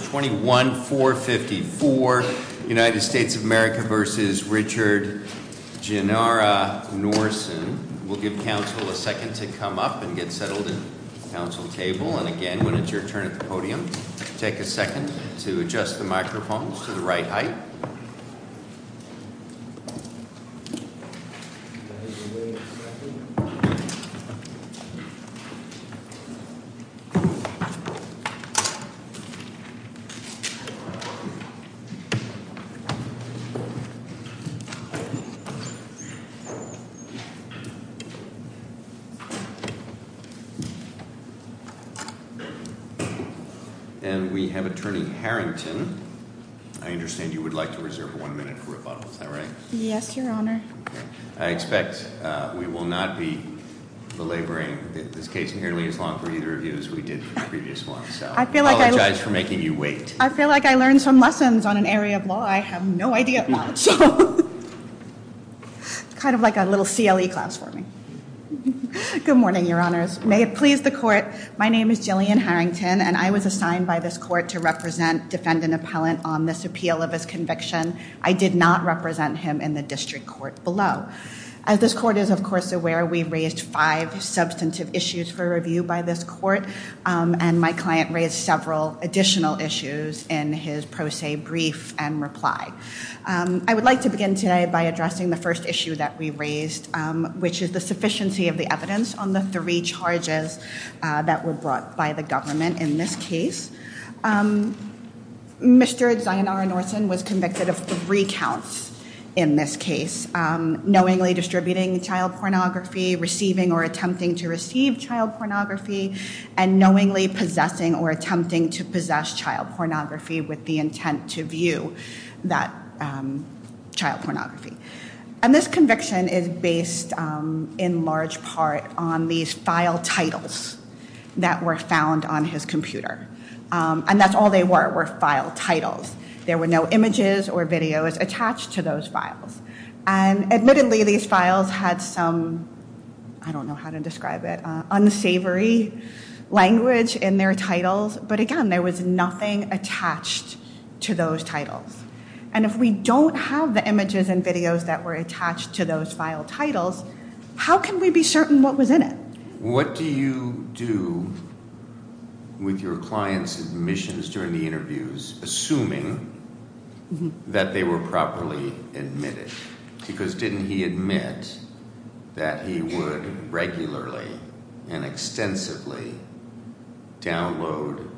21-454 United States of America v. Dzionara-Norsen And we have Attorney Harrington. I understand you would like to reserve one minute for rebuttal. Is that right? Yes, your Honor. I expect we will not be belaboring this case nearly as long for either of you as we did for the previous one. I apologize for making you wait. I feel like I learned some lessons on an area of law I have no idea about. Kind of like a little CLE class for me. Good morning, your Honors. May it please the Court. My name is Jillian Harrington and I was assigned by this court to represent defendant appellant on this appeal of his conviction. I did not represent him in the district court below. As this court is of course aware, we raised five substantive issues for review by this court. And my client raised several additional issues in his pro se brief and reply. I would like to begin today by addressing the first issue that we raised, which is the sufficiency of the evidence on the three charges that were brought by the government in this case. Mr. Zionara Norson was convicted of three counts in this case. Knowingly distributing child pornography, receiving or attempting to receive child pornography, and knowingly possessing or attempting to possess child pornography with the intent to view that child pornography. And this conviction is based in large part on these file titles that were found on his computer. And that's all they were, were file titles. There were no images or videos attached to those files. And admittedly these files had some, I don't know how to describe it, unsavory language in their titles. But again, there was nothing attached to those titles. And if we don't have the images and videos that were attached to those file titles, how can we be certain what was in it? What do you do with your client's admissions during the interviews, assuming that they were properly admitted? Because didn't he admit that he would regularly and extensively download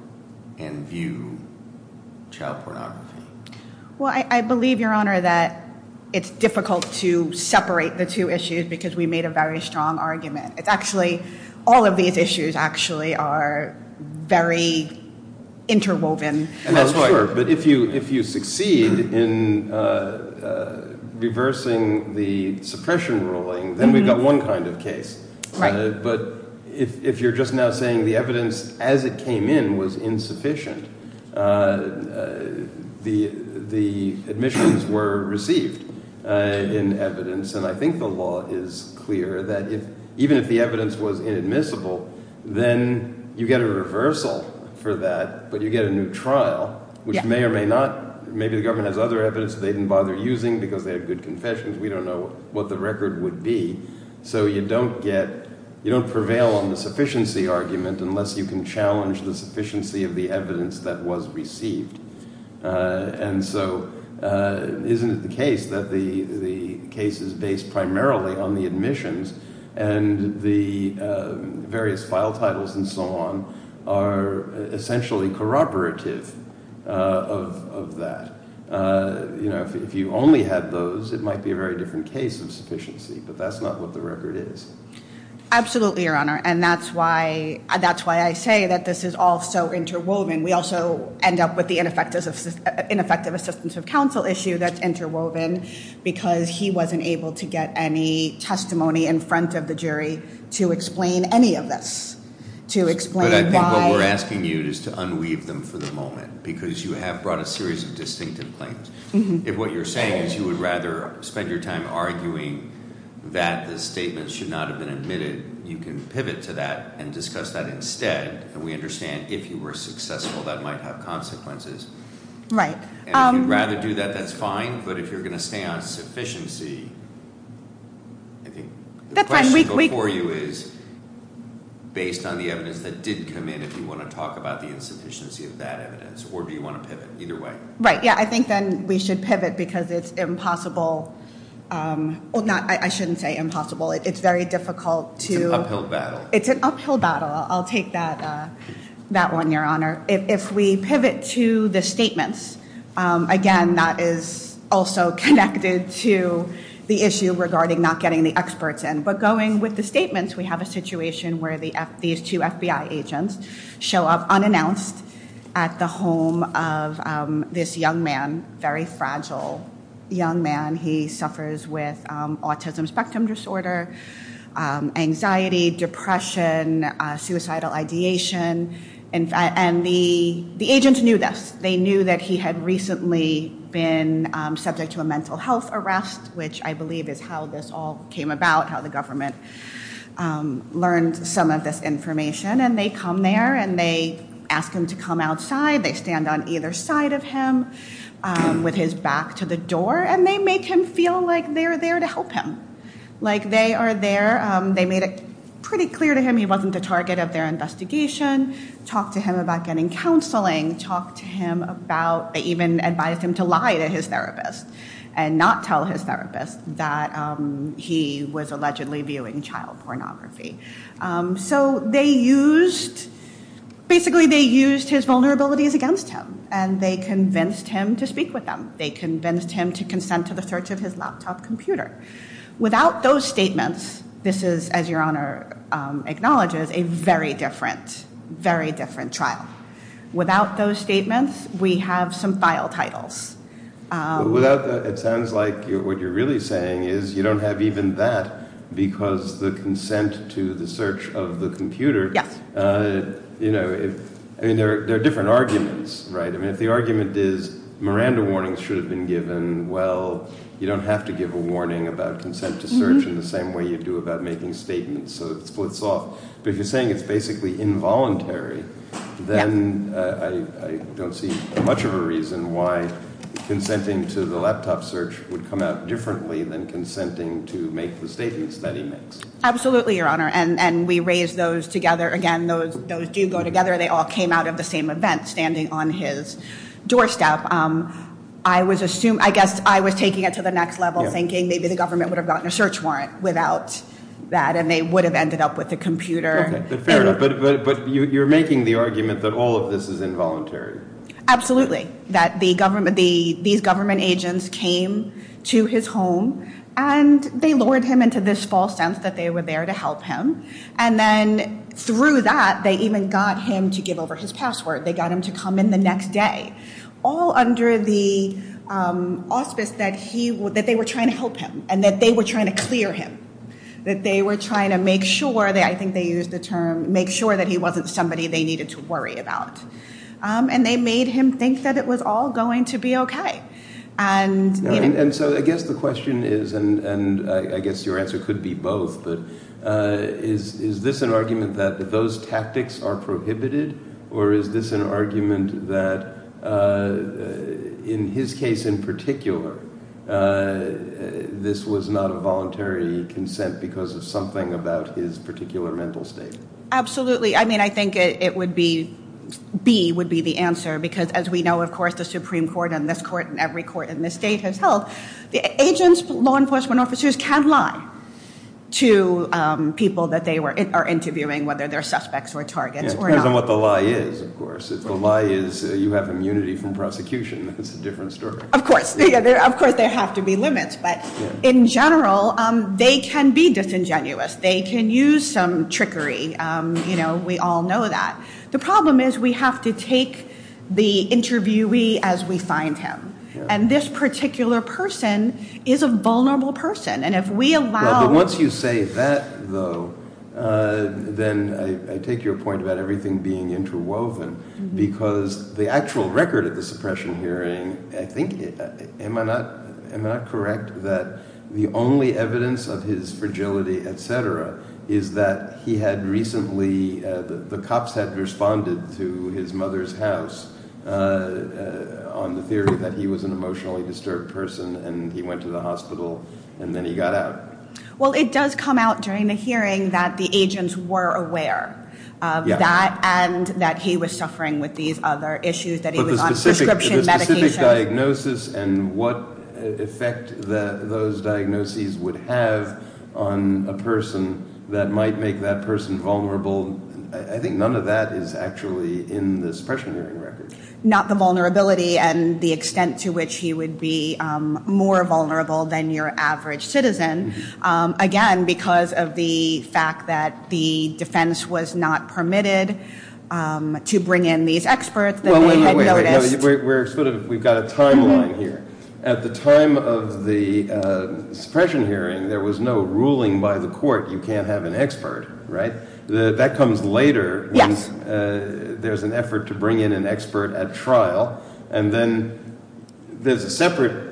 and view child pornography? Well, I believe, Your Honor, that it's difficult to separate the two issues because we made a very strong argument. It's actually, all of these issues actually are very interwoven. Well, sure, but if you succeed in reversing the suppression ruling, then we've got one kind of case. But if you're just now saying the evidence as it came in was insufficient, the admissions were received in evidence. And I think the law is clear that even if the evidence was inadmissible, then you get a reversal for that, but you get a new trial, which may or may not – maybe the government has other evidence they didn't bother using because they have good confessions. We don't know what the record would be. So you don't get – you don't prevail on the sufficiency argument unless you can challenge the sufficiency of the evidence that was received. And so isn't it the case that the case is based primarily on the admissions and the various file titles and so on are essentially corroborative of that? If you only had those, it might be a very different case of sufficiency, but that's not what the record is. Absolutely, Your Honor, and that's why I say that this is all so interwoven. We also end up with the ineffective assistance of counsel issue that's interwoven because he wasn't able to get any testimony in front of the jury to explain any of this, to explain why- But I think what we're asking you is to unweave them for the moment because you have brought a series of distinctive claims. If what you're saying is you would rather spend your time arguing that the statement should not have been admitted, you can pivot to that and discuss that instead. And we understand if you were successful, that might have consequences. Right. And if you'd rather do that, that's fine, but if you're going to stay on sufficiency, I think- That's fine. The question before you is based on the evidence that did come in, if you want to talk about the insufficiency of that evidence or do you want to pivot? Either way. Right. Yeah, I think then we should pivot because it's impossible – I shouldn't say impossible. It's very difficult to- It's an uphill battle. It's an uphill battle. I'll take that one, Your Honor. If we pivot to the statements, again, that is also connected to the issue regarding not getting the experts in. But going with the statements, we have a situation where these two FBI agents show up unannounced at the home of this young man, very fragile young man. He suffers with autism spectrum disorder, anxiety, depression, suicidal ideation, and the agents knew this. They knew that he had recently been subject to a mental health arrest, which I believe is how this all came about, how the government learned some of this information. And they come there and they ask him to come outside. They stand on either side of him with his back to the door, and they make him feel like they're there to help him, like they are there. They made it pretty clear to him he wasn't the target of their investigation, talked to him about getting counseling, talked to him about – they even advised him to lie to his therapist and not tell his therapist that he was allegedly viewing child pornography. So they used – basically they used his vulnerabilities against him, and they convinced him to speak with them. They convinced him to consent to the search of his laptop computer. Without those statements, this is, as Your Honor acknowledges, a very different, very different trial. Without those statements, we have some file titles. Without the – it sounds like what you're really saying is you don't have even that because the consent to the search of the computer – I mean, there are different arguments, right? I mean, if the argument is Miranda warnings should have been given, well, you don't have to give a warning about consent to search in the same way you do about making statements, so it splits off. But if you're saying it's basically involuntary, then I don't see much of a reason why consenting to the laptop search would come out differently than consenting to make the statements that he makes. Absolutely, Your Honor. And we raised those together. Again, those do go together. They all came out of the same event, standing on his doorstep. I was assuming – I guess I was taking it to the next level, thinking maybe the government would have gotten a search warrant without that and they would have ended up with the computer. Fair enough. But you're making the argument that all of this is involuntary. Absolutely. That these government agents came to his home and they lured him into this false sense that they were there to help him. And then through that, they even got him to give over his password. They got him to come in the next day. All under the auspice that they were trying to help him and that they were trying to clear him, that they were trying to make sure – I think they used the term – make sure that he wasn't somebody they needed to worry about. And they made him think that it was all going to be okay. And so I guess the question is – and I guess your answer could be both – but is this an argument that those tactics are prohibited? Or is this an argument that in his case in particular, this was not a voluntary consent because of something about his particular mental state? Absolutely. I mean, I think it would be – B would be the answer because as we know, of course, the Supreme Court and this court and every court in this state has held, the agents, law enforcement officers, can lie to people that they are interviewing, whether they're suspects or targets. It depends on what the lie is, of course. If the lie is you have immunity from prosecution, that's a different story. Of course. Of course there have to be limits. But in general, they can be disingenuous. They can use some trickery. We all know that. The problem is we have to take the interviewee as we find him. And this particular person is a vulnerable person. But once you say that, though, then I take your point about everything being interwoven because the actual record of the suppression hearing, I think – am I not correct that the only evidence of his fragility, et cetera, is that he had recently – the cops had responded to his mother's house on the theory that he was an emotionally disturbed person and he went to the hospital. And then he got out. Well, it does come out during the hearing that the agents were aware of that and that he was suffering with these other issues that he was on prescription medication. But the specific diagnosis and what effect those diagnoses would have on a person that might make that person vulnerable, I think none of that is actually in the suppression hearing record. Not the vulnerability and the extent to which he would be more vulnerable than your average citizen, again, because of the fact that the defense was not permitted to bring in these experts that they had noticed. Wait, wait, wait. We're sort of – we've got a timeline here. At the time of the suppression hearing, there was no ruling by the court you can't have an expert, right? That comes later. Yes. There's an effort to bring in an expert at trial and then there's a separate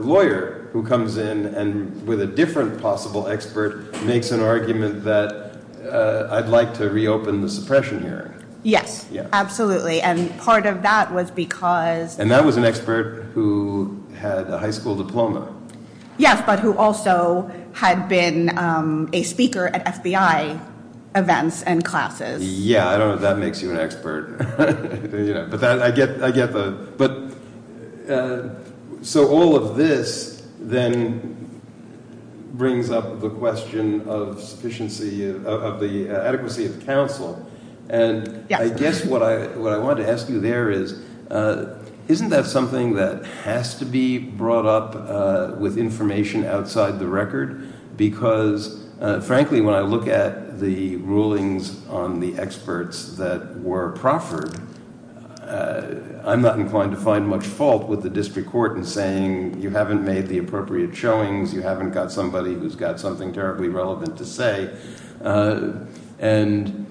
lawyer who comes in and with a different possible expert makes an argument that I'd like to reopen the suppression hearing. Yes, absolutely. And part of that was because – And that was an expert who had a high school diploma. Yes, but who also had been a speaker at FBI events and classes. Yeah, I don't know if that makes you an expert. But I get the – so all of this then brings up the question of the adequacy of counsel. Yes. I guess what I wanted to ask you there is isn't that something that has to be brought up with information outside the record? Because, frankly, when I look at the rulings on the experts that were proffered, I'm not inclined to find much fault with the district court in saying you haven't made the appropriate showings, you haven't got somebody who's got something terribly relevant to say. And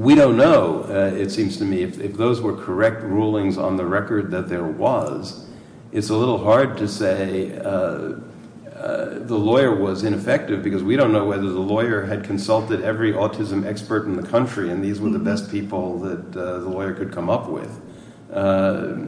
we don't know, it seems to me, if those were correct rulings on the record that there was. It's a little hard to say the lawyer was ineffective because we don't know whether the lawyer had consulted every autism expert in the country and these were the best people that the lawyer could come up with. The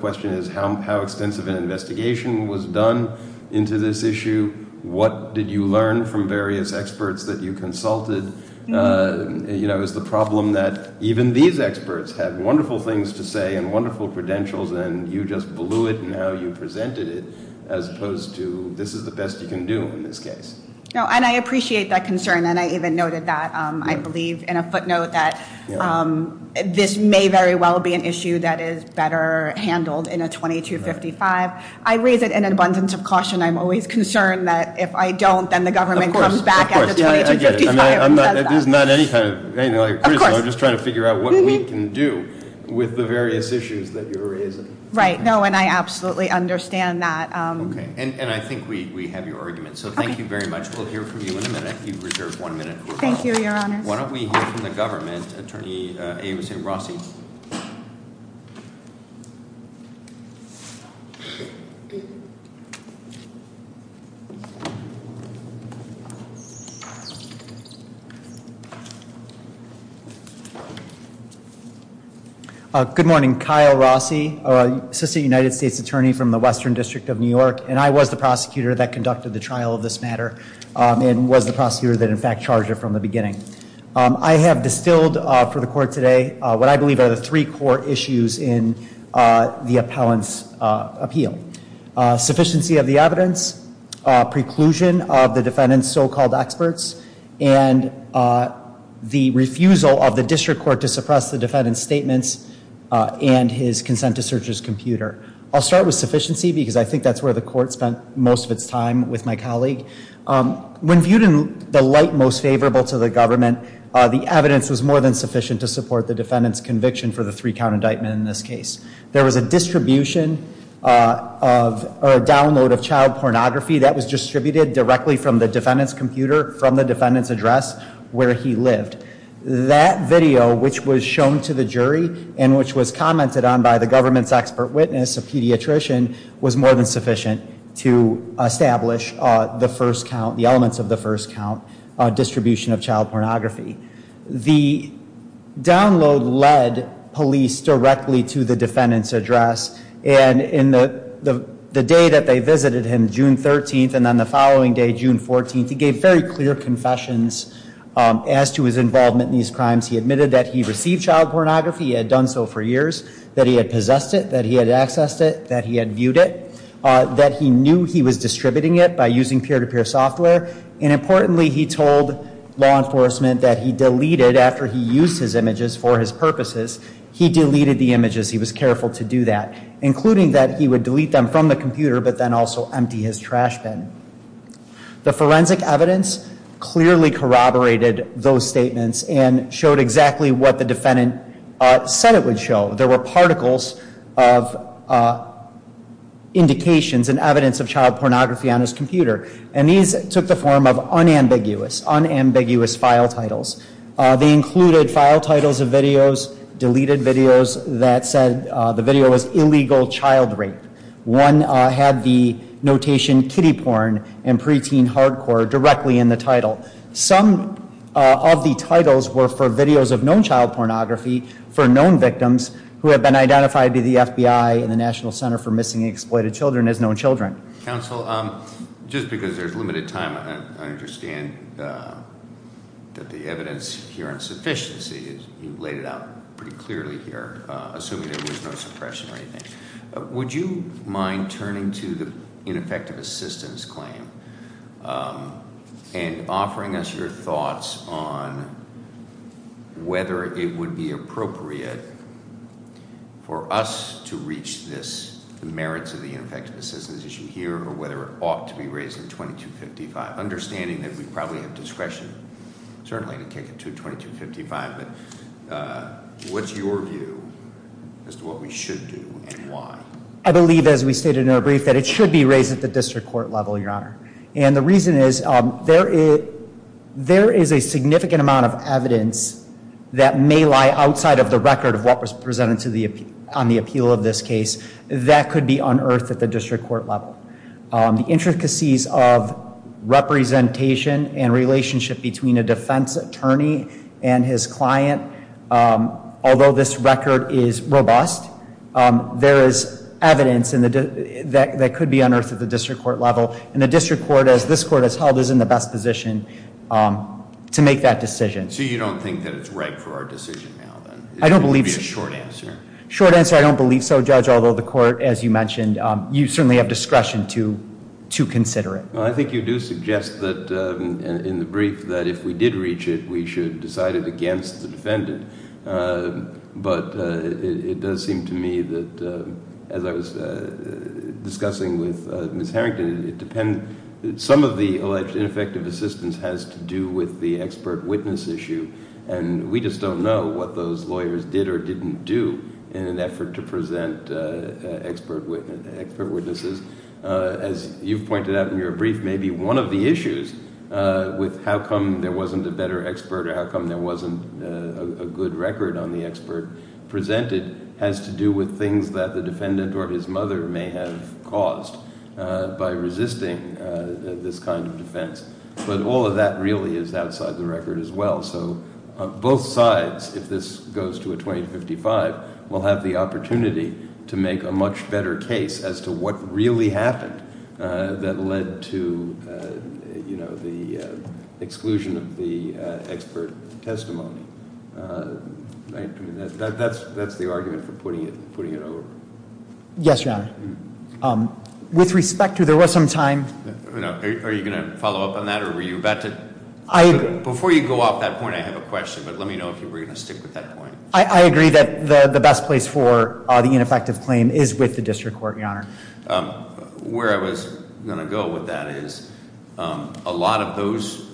question is how extensive an investigation was done into this issue. What did you learn from various experts that you consulted? Is the problem that even these experts had wonderful things to say and wonderful credentials and you just blew it in how you presented it as opposed to this is the best you can do in this case? No, and I appreciate that concern and I even noted that, I believe, in a footnote that this may very well be an issue that is better handled in a 2255. I raise it in abundance of caution. I'm always concerned that if I don't, then the government comes back at the 2255 and does that. Of course, I get it. I'm not, it is not any kind of, anything like a criticism. Of course. I'm just trying to figure out what we can do with the various issues that you're raising. Right. No, and I absolutely understand that. Okay, and I think we have your argument. So, thank you very much. We'll hear from you in a minute. You've reserved one minute. Thank you, Your Honor. Why don't we hear from the government, Attorney A. Rossi. Thank you. Good morning. Kyle Rossi, Assistant United States Attorney from the Western District of New York, and I was the prosecutor that conducted the trial of this matter and was the prosecutor that, in fact, charged it from the beginning. I have distilled for the court today what I believe are the three core issues in the appellant's appeal. Sufficiency of the evidence, preclusion of the defendant's so-called experts, and the refusal of the district court to suppress the defendant's statements and his consent to search his computer. I'll start with sufficiency because I think that's where the court spent most of its time with my colleague. When viewed in the light most favorable to the government, the evidence was more than sufficient to support the defendant's conviction for the three-count indictment in this case. There was a distribution or a download of child pornography that was distributed directly from the defendant's computer from the defendant's address where he lived. That video, which was shown to the jury and which was commented on by the government's expert witness, a pediatrician, was more than sufficient to establish the first count, the elements of the first count distribution of child pornography. The download led police directly to the defendant's address. In the day that they visited him, June 13th, and then the following day, June 14th, he gave very clear confessions as to his involvement in these crimes. He admitted that he received child pornography. He had done so for years, that he had possessed it, that he had accessed it, that he had viewed it, that he knew he was distributing it by using peer-to-peer software. Importantly, he told law enforcement that he deleted, after he used his images for his purposes, he deleted the images. He was careful to do that, including that he would delete them from the computer, but then also empty his trash bin. The forensic evidence clearly corroborated those statements and showed exactly what the defendant said it would show. There were particles of indications and evidence of child pornography on his computer, and these took the form of unambiguous, unambiguous file titles. They included file titles of videos, deleted videos that said the video was illegal child rape. One had the notation kiddie porn and preteen hardcore directly in the title. Some of the titles were for videos of known child pornography for known victims who have been identified to the FBI and the National Center for Missing and Exploited Children as known children. Counsel, just because there's limited time, I understand that the evidence here on sufficiency, you've laid it out pretty clearly here, assuming there was no suppression or anything. Would you mind turning to the ineffective assistance claim and offering us your thoughts on whether it would be appropriate for us to reach this, the merits of the ineffective assistance issue here, or whether it ought to be raised in 2255? Understanding that we probably have discretion, certainly, to kick it to 2255, but what's your view as to what we should do and why? I believe, as we stated in our brief, that it should be raised at the district court level, your honor. And the reason is, there is a significant amount of evidence that may lie outside of the record of what was presented on the appeal of this case that could be unearthed at the district court level. The intricacies of representation and relationship between a defense attorney and his client, although this record is robust, there is evidence that could be unearthed at the district court level. And the district court, as this court has held, is in the best position to make that decision. So you don't think that it's right for our decision now, then? I don't believe so. It would be a short answer. Short answer, I don't believe so, Judge, although the court, as you mentioned, you certainly have discretion to consider it. Well, I think you do suggest that in the brief that if we did reach it, we should decide it against the defendant. But it does seem to me that, as I was discussing with Ms. And we just don't know what those lawyers did or didn't do in an effort to present expert witnesses. As you've pointed out in your brief, maybe one of the issues with how come there wasn't a better expert, or how come there wasn't a good record on the expert presented, has to do with things that the defendant or his mother may have caused by resisting this kind of defense. But all of that really is outside the record as well. So both sides, if this goes to a 20 to 55, will have the opportunity to make a much better case as to what really happened that led to the exclusion of the expert testimony. That's the argument for putting it over. Yes, Your Honor. With respect to, there was some time. Are you going to follow up on that or were you about to? Before you go off that point, I have a question, but let me know if you were going to stick with that point. I agree that the best place for the ineffective claim is with the district court, Your Honor. Where I was going to go with that is, a lot of those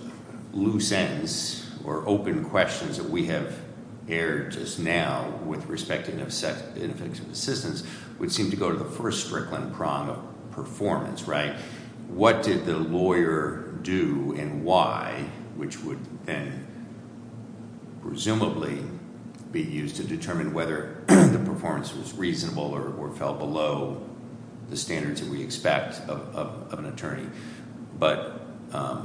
loose ends or open questions that we have aired just now with respect to ineffective assistance would seem to go to the first strickling prong of performance, right? What did the lawyer do and why, which would then, presumably, be used to determine whether the performance was reasonable or fell below the standards that we expect of an attorney. But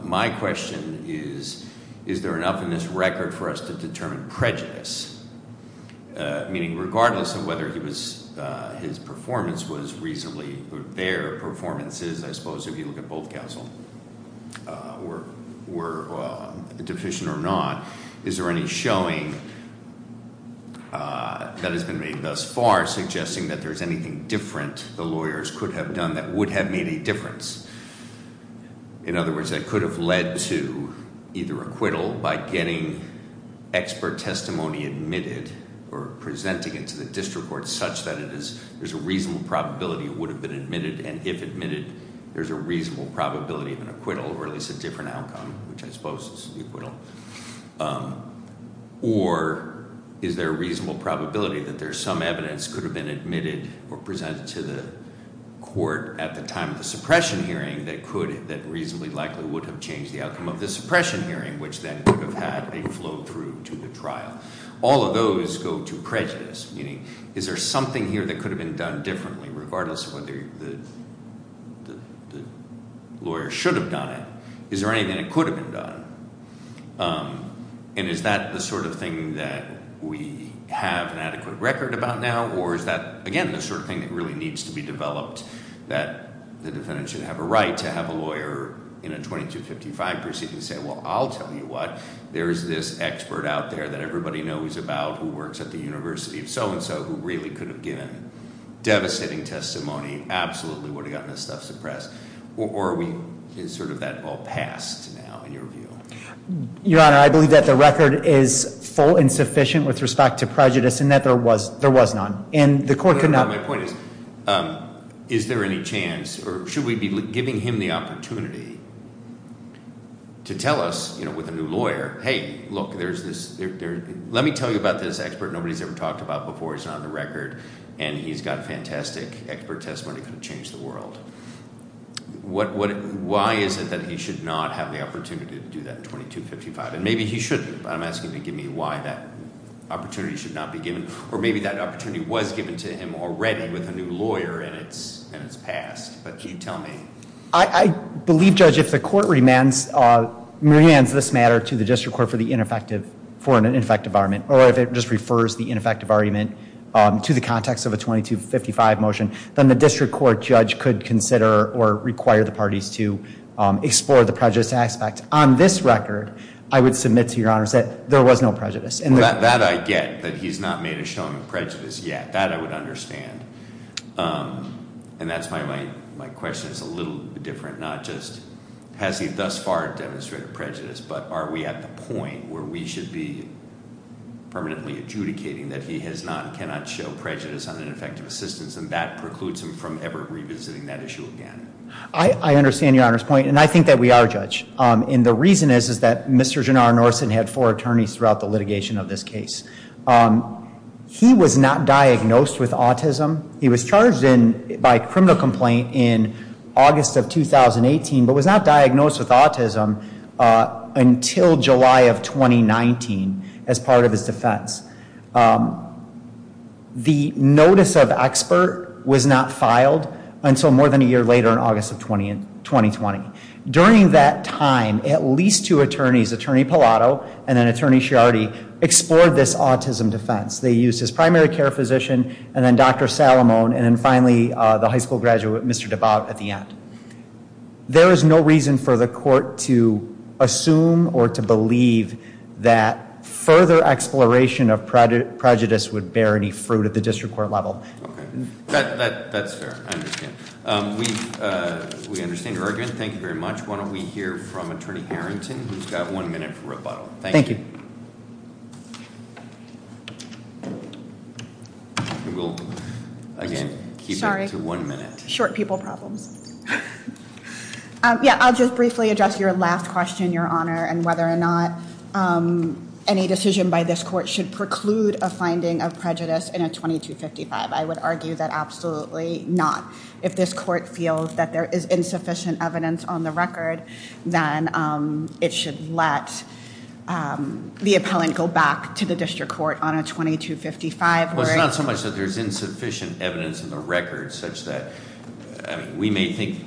my question is, is there enough in this record for us to determine prejudice? Meaning regardless of whether his performance was reasonably, their performances, I suppose if you look at both counsel, were deficient or not. Is there any showing that has been made thus far suggesting that there's anything different the lawyers could have done that would have made a difference? In other words, that could have led to either acquittal by getting expert testimony admitted. Or presenting it to the district court such that there's a reasonable probability it would have been admitted. And if admitted, there's a reasonable probability of an acquittal, or at least a different outcome, which I suppose is the acquittal. Or is there a reasonable probability that there's some evidence could have been admitted or presented to the court at the time of the suppression hearing that could, that reasonably likely would have changed the outcome of the suppression hearing, which then would have had a flow through to the trial. All of those go to prejudice, meaning, is there something here that could have been done differently, regardless of whether the lawyer should have done it? Is there anything that could have been done? And is that the sort of thing that we have an adequate record about now? Or is that, again, the sort of thing that really needs to be developed, that the defendant should have a right to have a lawyer in a 2255 proceeding say, well, I'll tell you what. There's this expert out there that everybody knows about who works at the university, so and so, who really could have given devastating testimony, absolutely would have gotten this stuff suppressed. Or is sort of that all passed now, in your view? Your Honor, I believe that the record is full and sufficient with respect to prejudice and that there was none. And the court could not- My point is, is there any chance, or should we be giving him the opportunity to tell us, with a new lawyer, hey, look, let me tell you about this expert nobody's ever talked about before. He's not on the record, and he's got fantastic expert testimony that could change the world. Why is it that he should not have the opportunity to do that in 2255? And maybe he shouldn't, but I'm asking to give me why that opportunity should not be given. Or maybe that opportunity was given to him already with a new lawyer, and it's passed. But you tell me. I believe, Judge, if the court remands this matter to the district court for the ineffective argument, or if it just refers the ineffective argument to the context of a 2255 motion, then the district court judge could consider or require the parties to explore the prejudice aspect. On this record, I would submit to your honors that there was no prejudice. And that- That I get, that he's not made a show of prejudice yet. That I would understand, and that's why my question is a little different, not just has he thus far demonstrated prejudice, but are we at the point where we should be permanently adjudicating that he has not and cannot show prejudice on an effective assistance, and that precludes him from ever revisiting that issue again? I understand your honor's point, and I think that we are, Judge. And the reason is, is that Mr. Jannar-Norsen had four attorneys throughout the litigation of this case. He was not diagnosed with autism. He was charged by criminal complaint in August of 2018, but he was not diagnosed with autism until July of 2019 as part of his defense. The notice of expert was not filed until more than a year later in August of 2020. During that time, at least two attorneys, Attorney Pallotto and then Attorney Sciardi, explored this autism defense. They used his primary care physician, and then Dr. Salamone, and then finally the high school graduate, Mr. Dabowd at the end. There is no reason for the court to assume or to believe that further exploration of prejudice would bear any fruit at the district court level. That's fair, I understand. We understand your argument, thank you very much. Why don't we hear from Attorney Harrington, who's got one minute for rebuttal. Thank you. We'll, again, keep it to one minute. Short people problems. Yeah, I'll just briefly address your last question, Your Honor, and whether or not any decision by this court should preclude a finding of prejudice in a 2255. I would argue that absolutely not. If this court feels that there is insufficient evidence on the record, then it should let the appellant go back to the district court on a 2255. Well, it's not so much that there's insufficient evidence in the record, such that, I mean, we may think,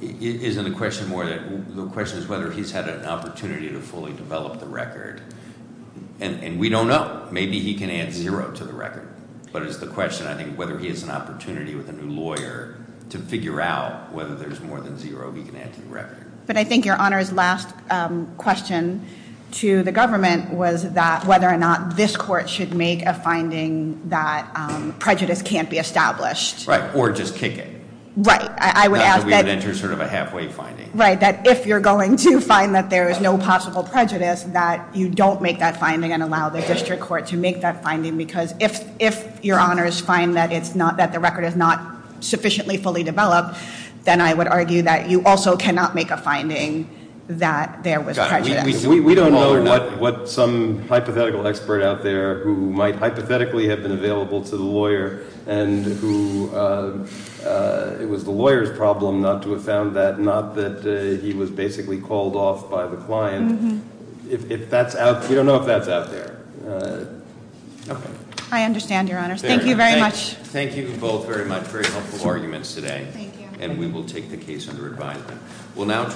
isn't the question more that, the question is whether he's had an opportunity to fully develop the record, and we don't know. Maybe he can add zero to the record. But it's the question, I think, whether he has an opportunity with a new lawyer to figure out whether there's more than zero he can add to the record. But I think, Your Honor's last question to the government was that whether or not this court should make a finding that prejudice can't be established. Right, or just kick it. Right, I would ask that- That we would enter sort of a halfway finding. Right, that if you're going to find that there is no possible prejudice, that you don't make that finding and allow the district court to make that finding because if your honors find that it's not, that the record is not sufficiently fully developed, then I would argue that you also cannot make a finding that there was prejudice. We don't know what some hypothetical expert out there who might hypothetically have been available to the lawyer and who, it was the lawyer's problem not to have found that, not that he was basically called off by the client, if that's out, we don't know if that's out there. I understand, Your Honors. Thank you very much. Thank you both very much, very helpful arguments today. Thank you. And we will take the case under advisement. We'll now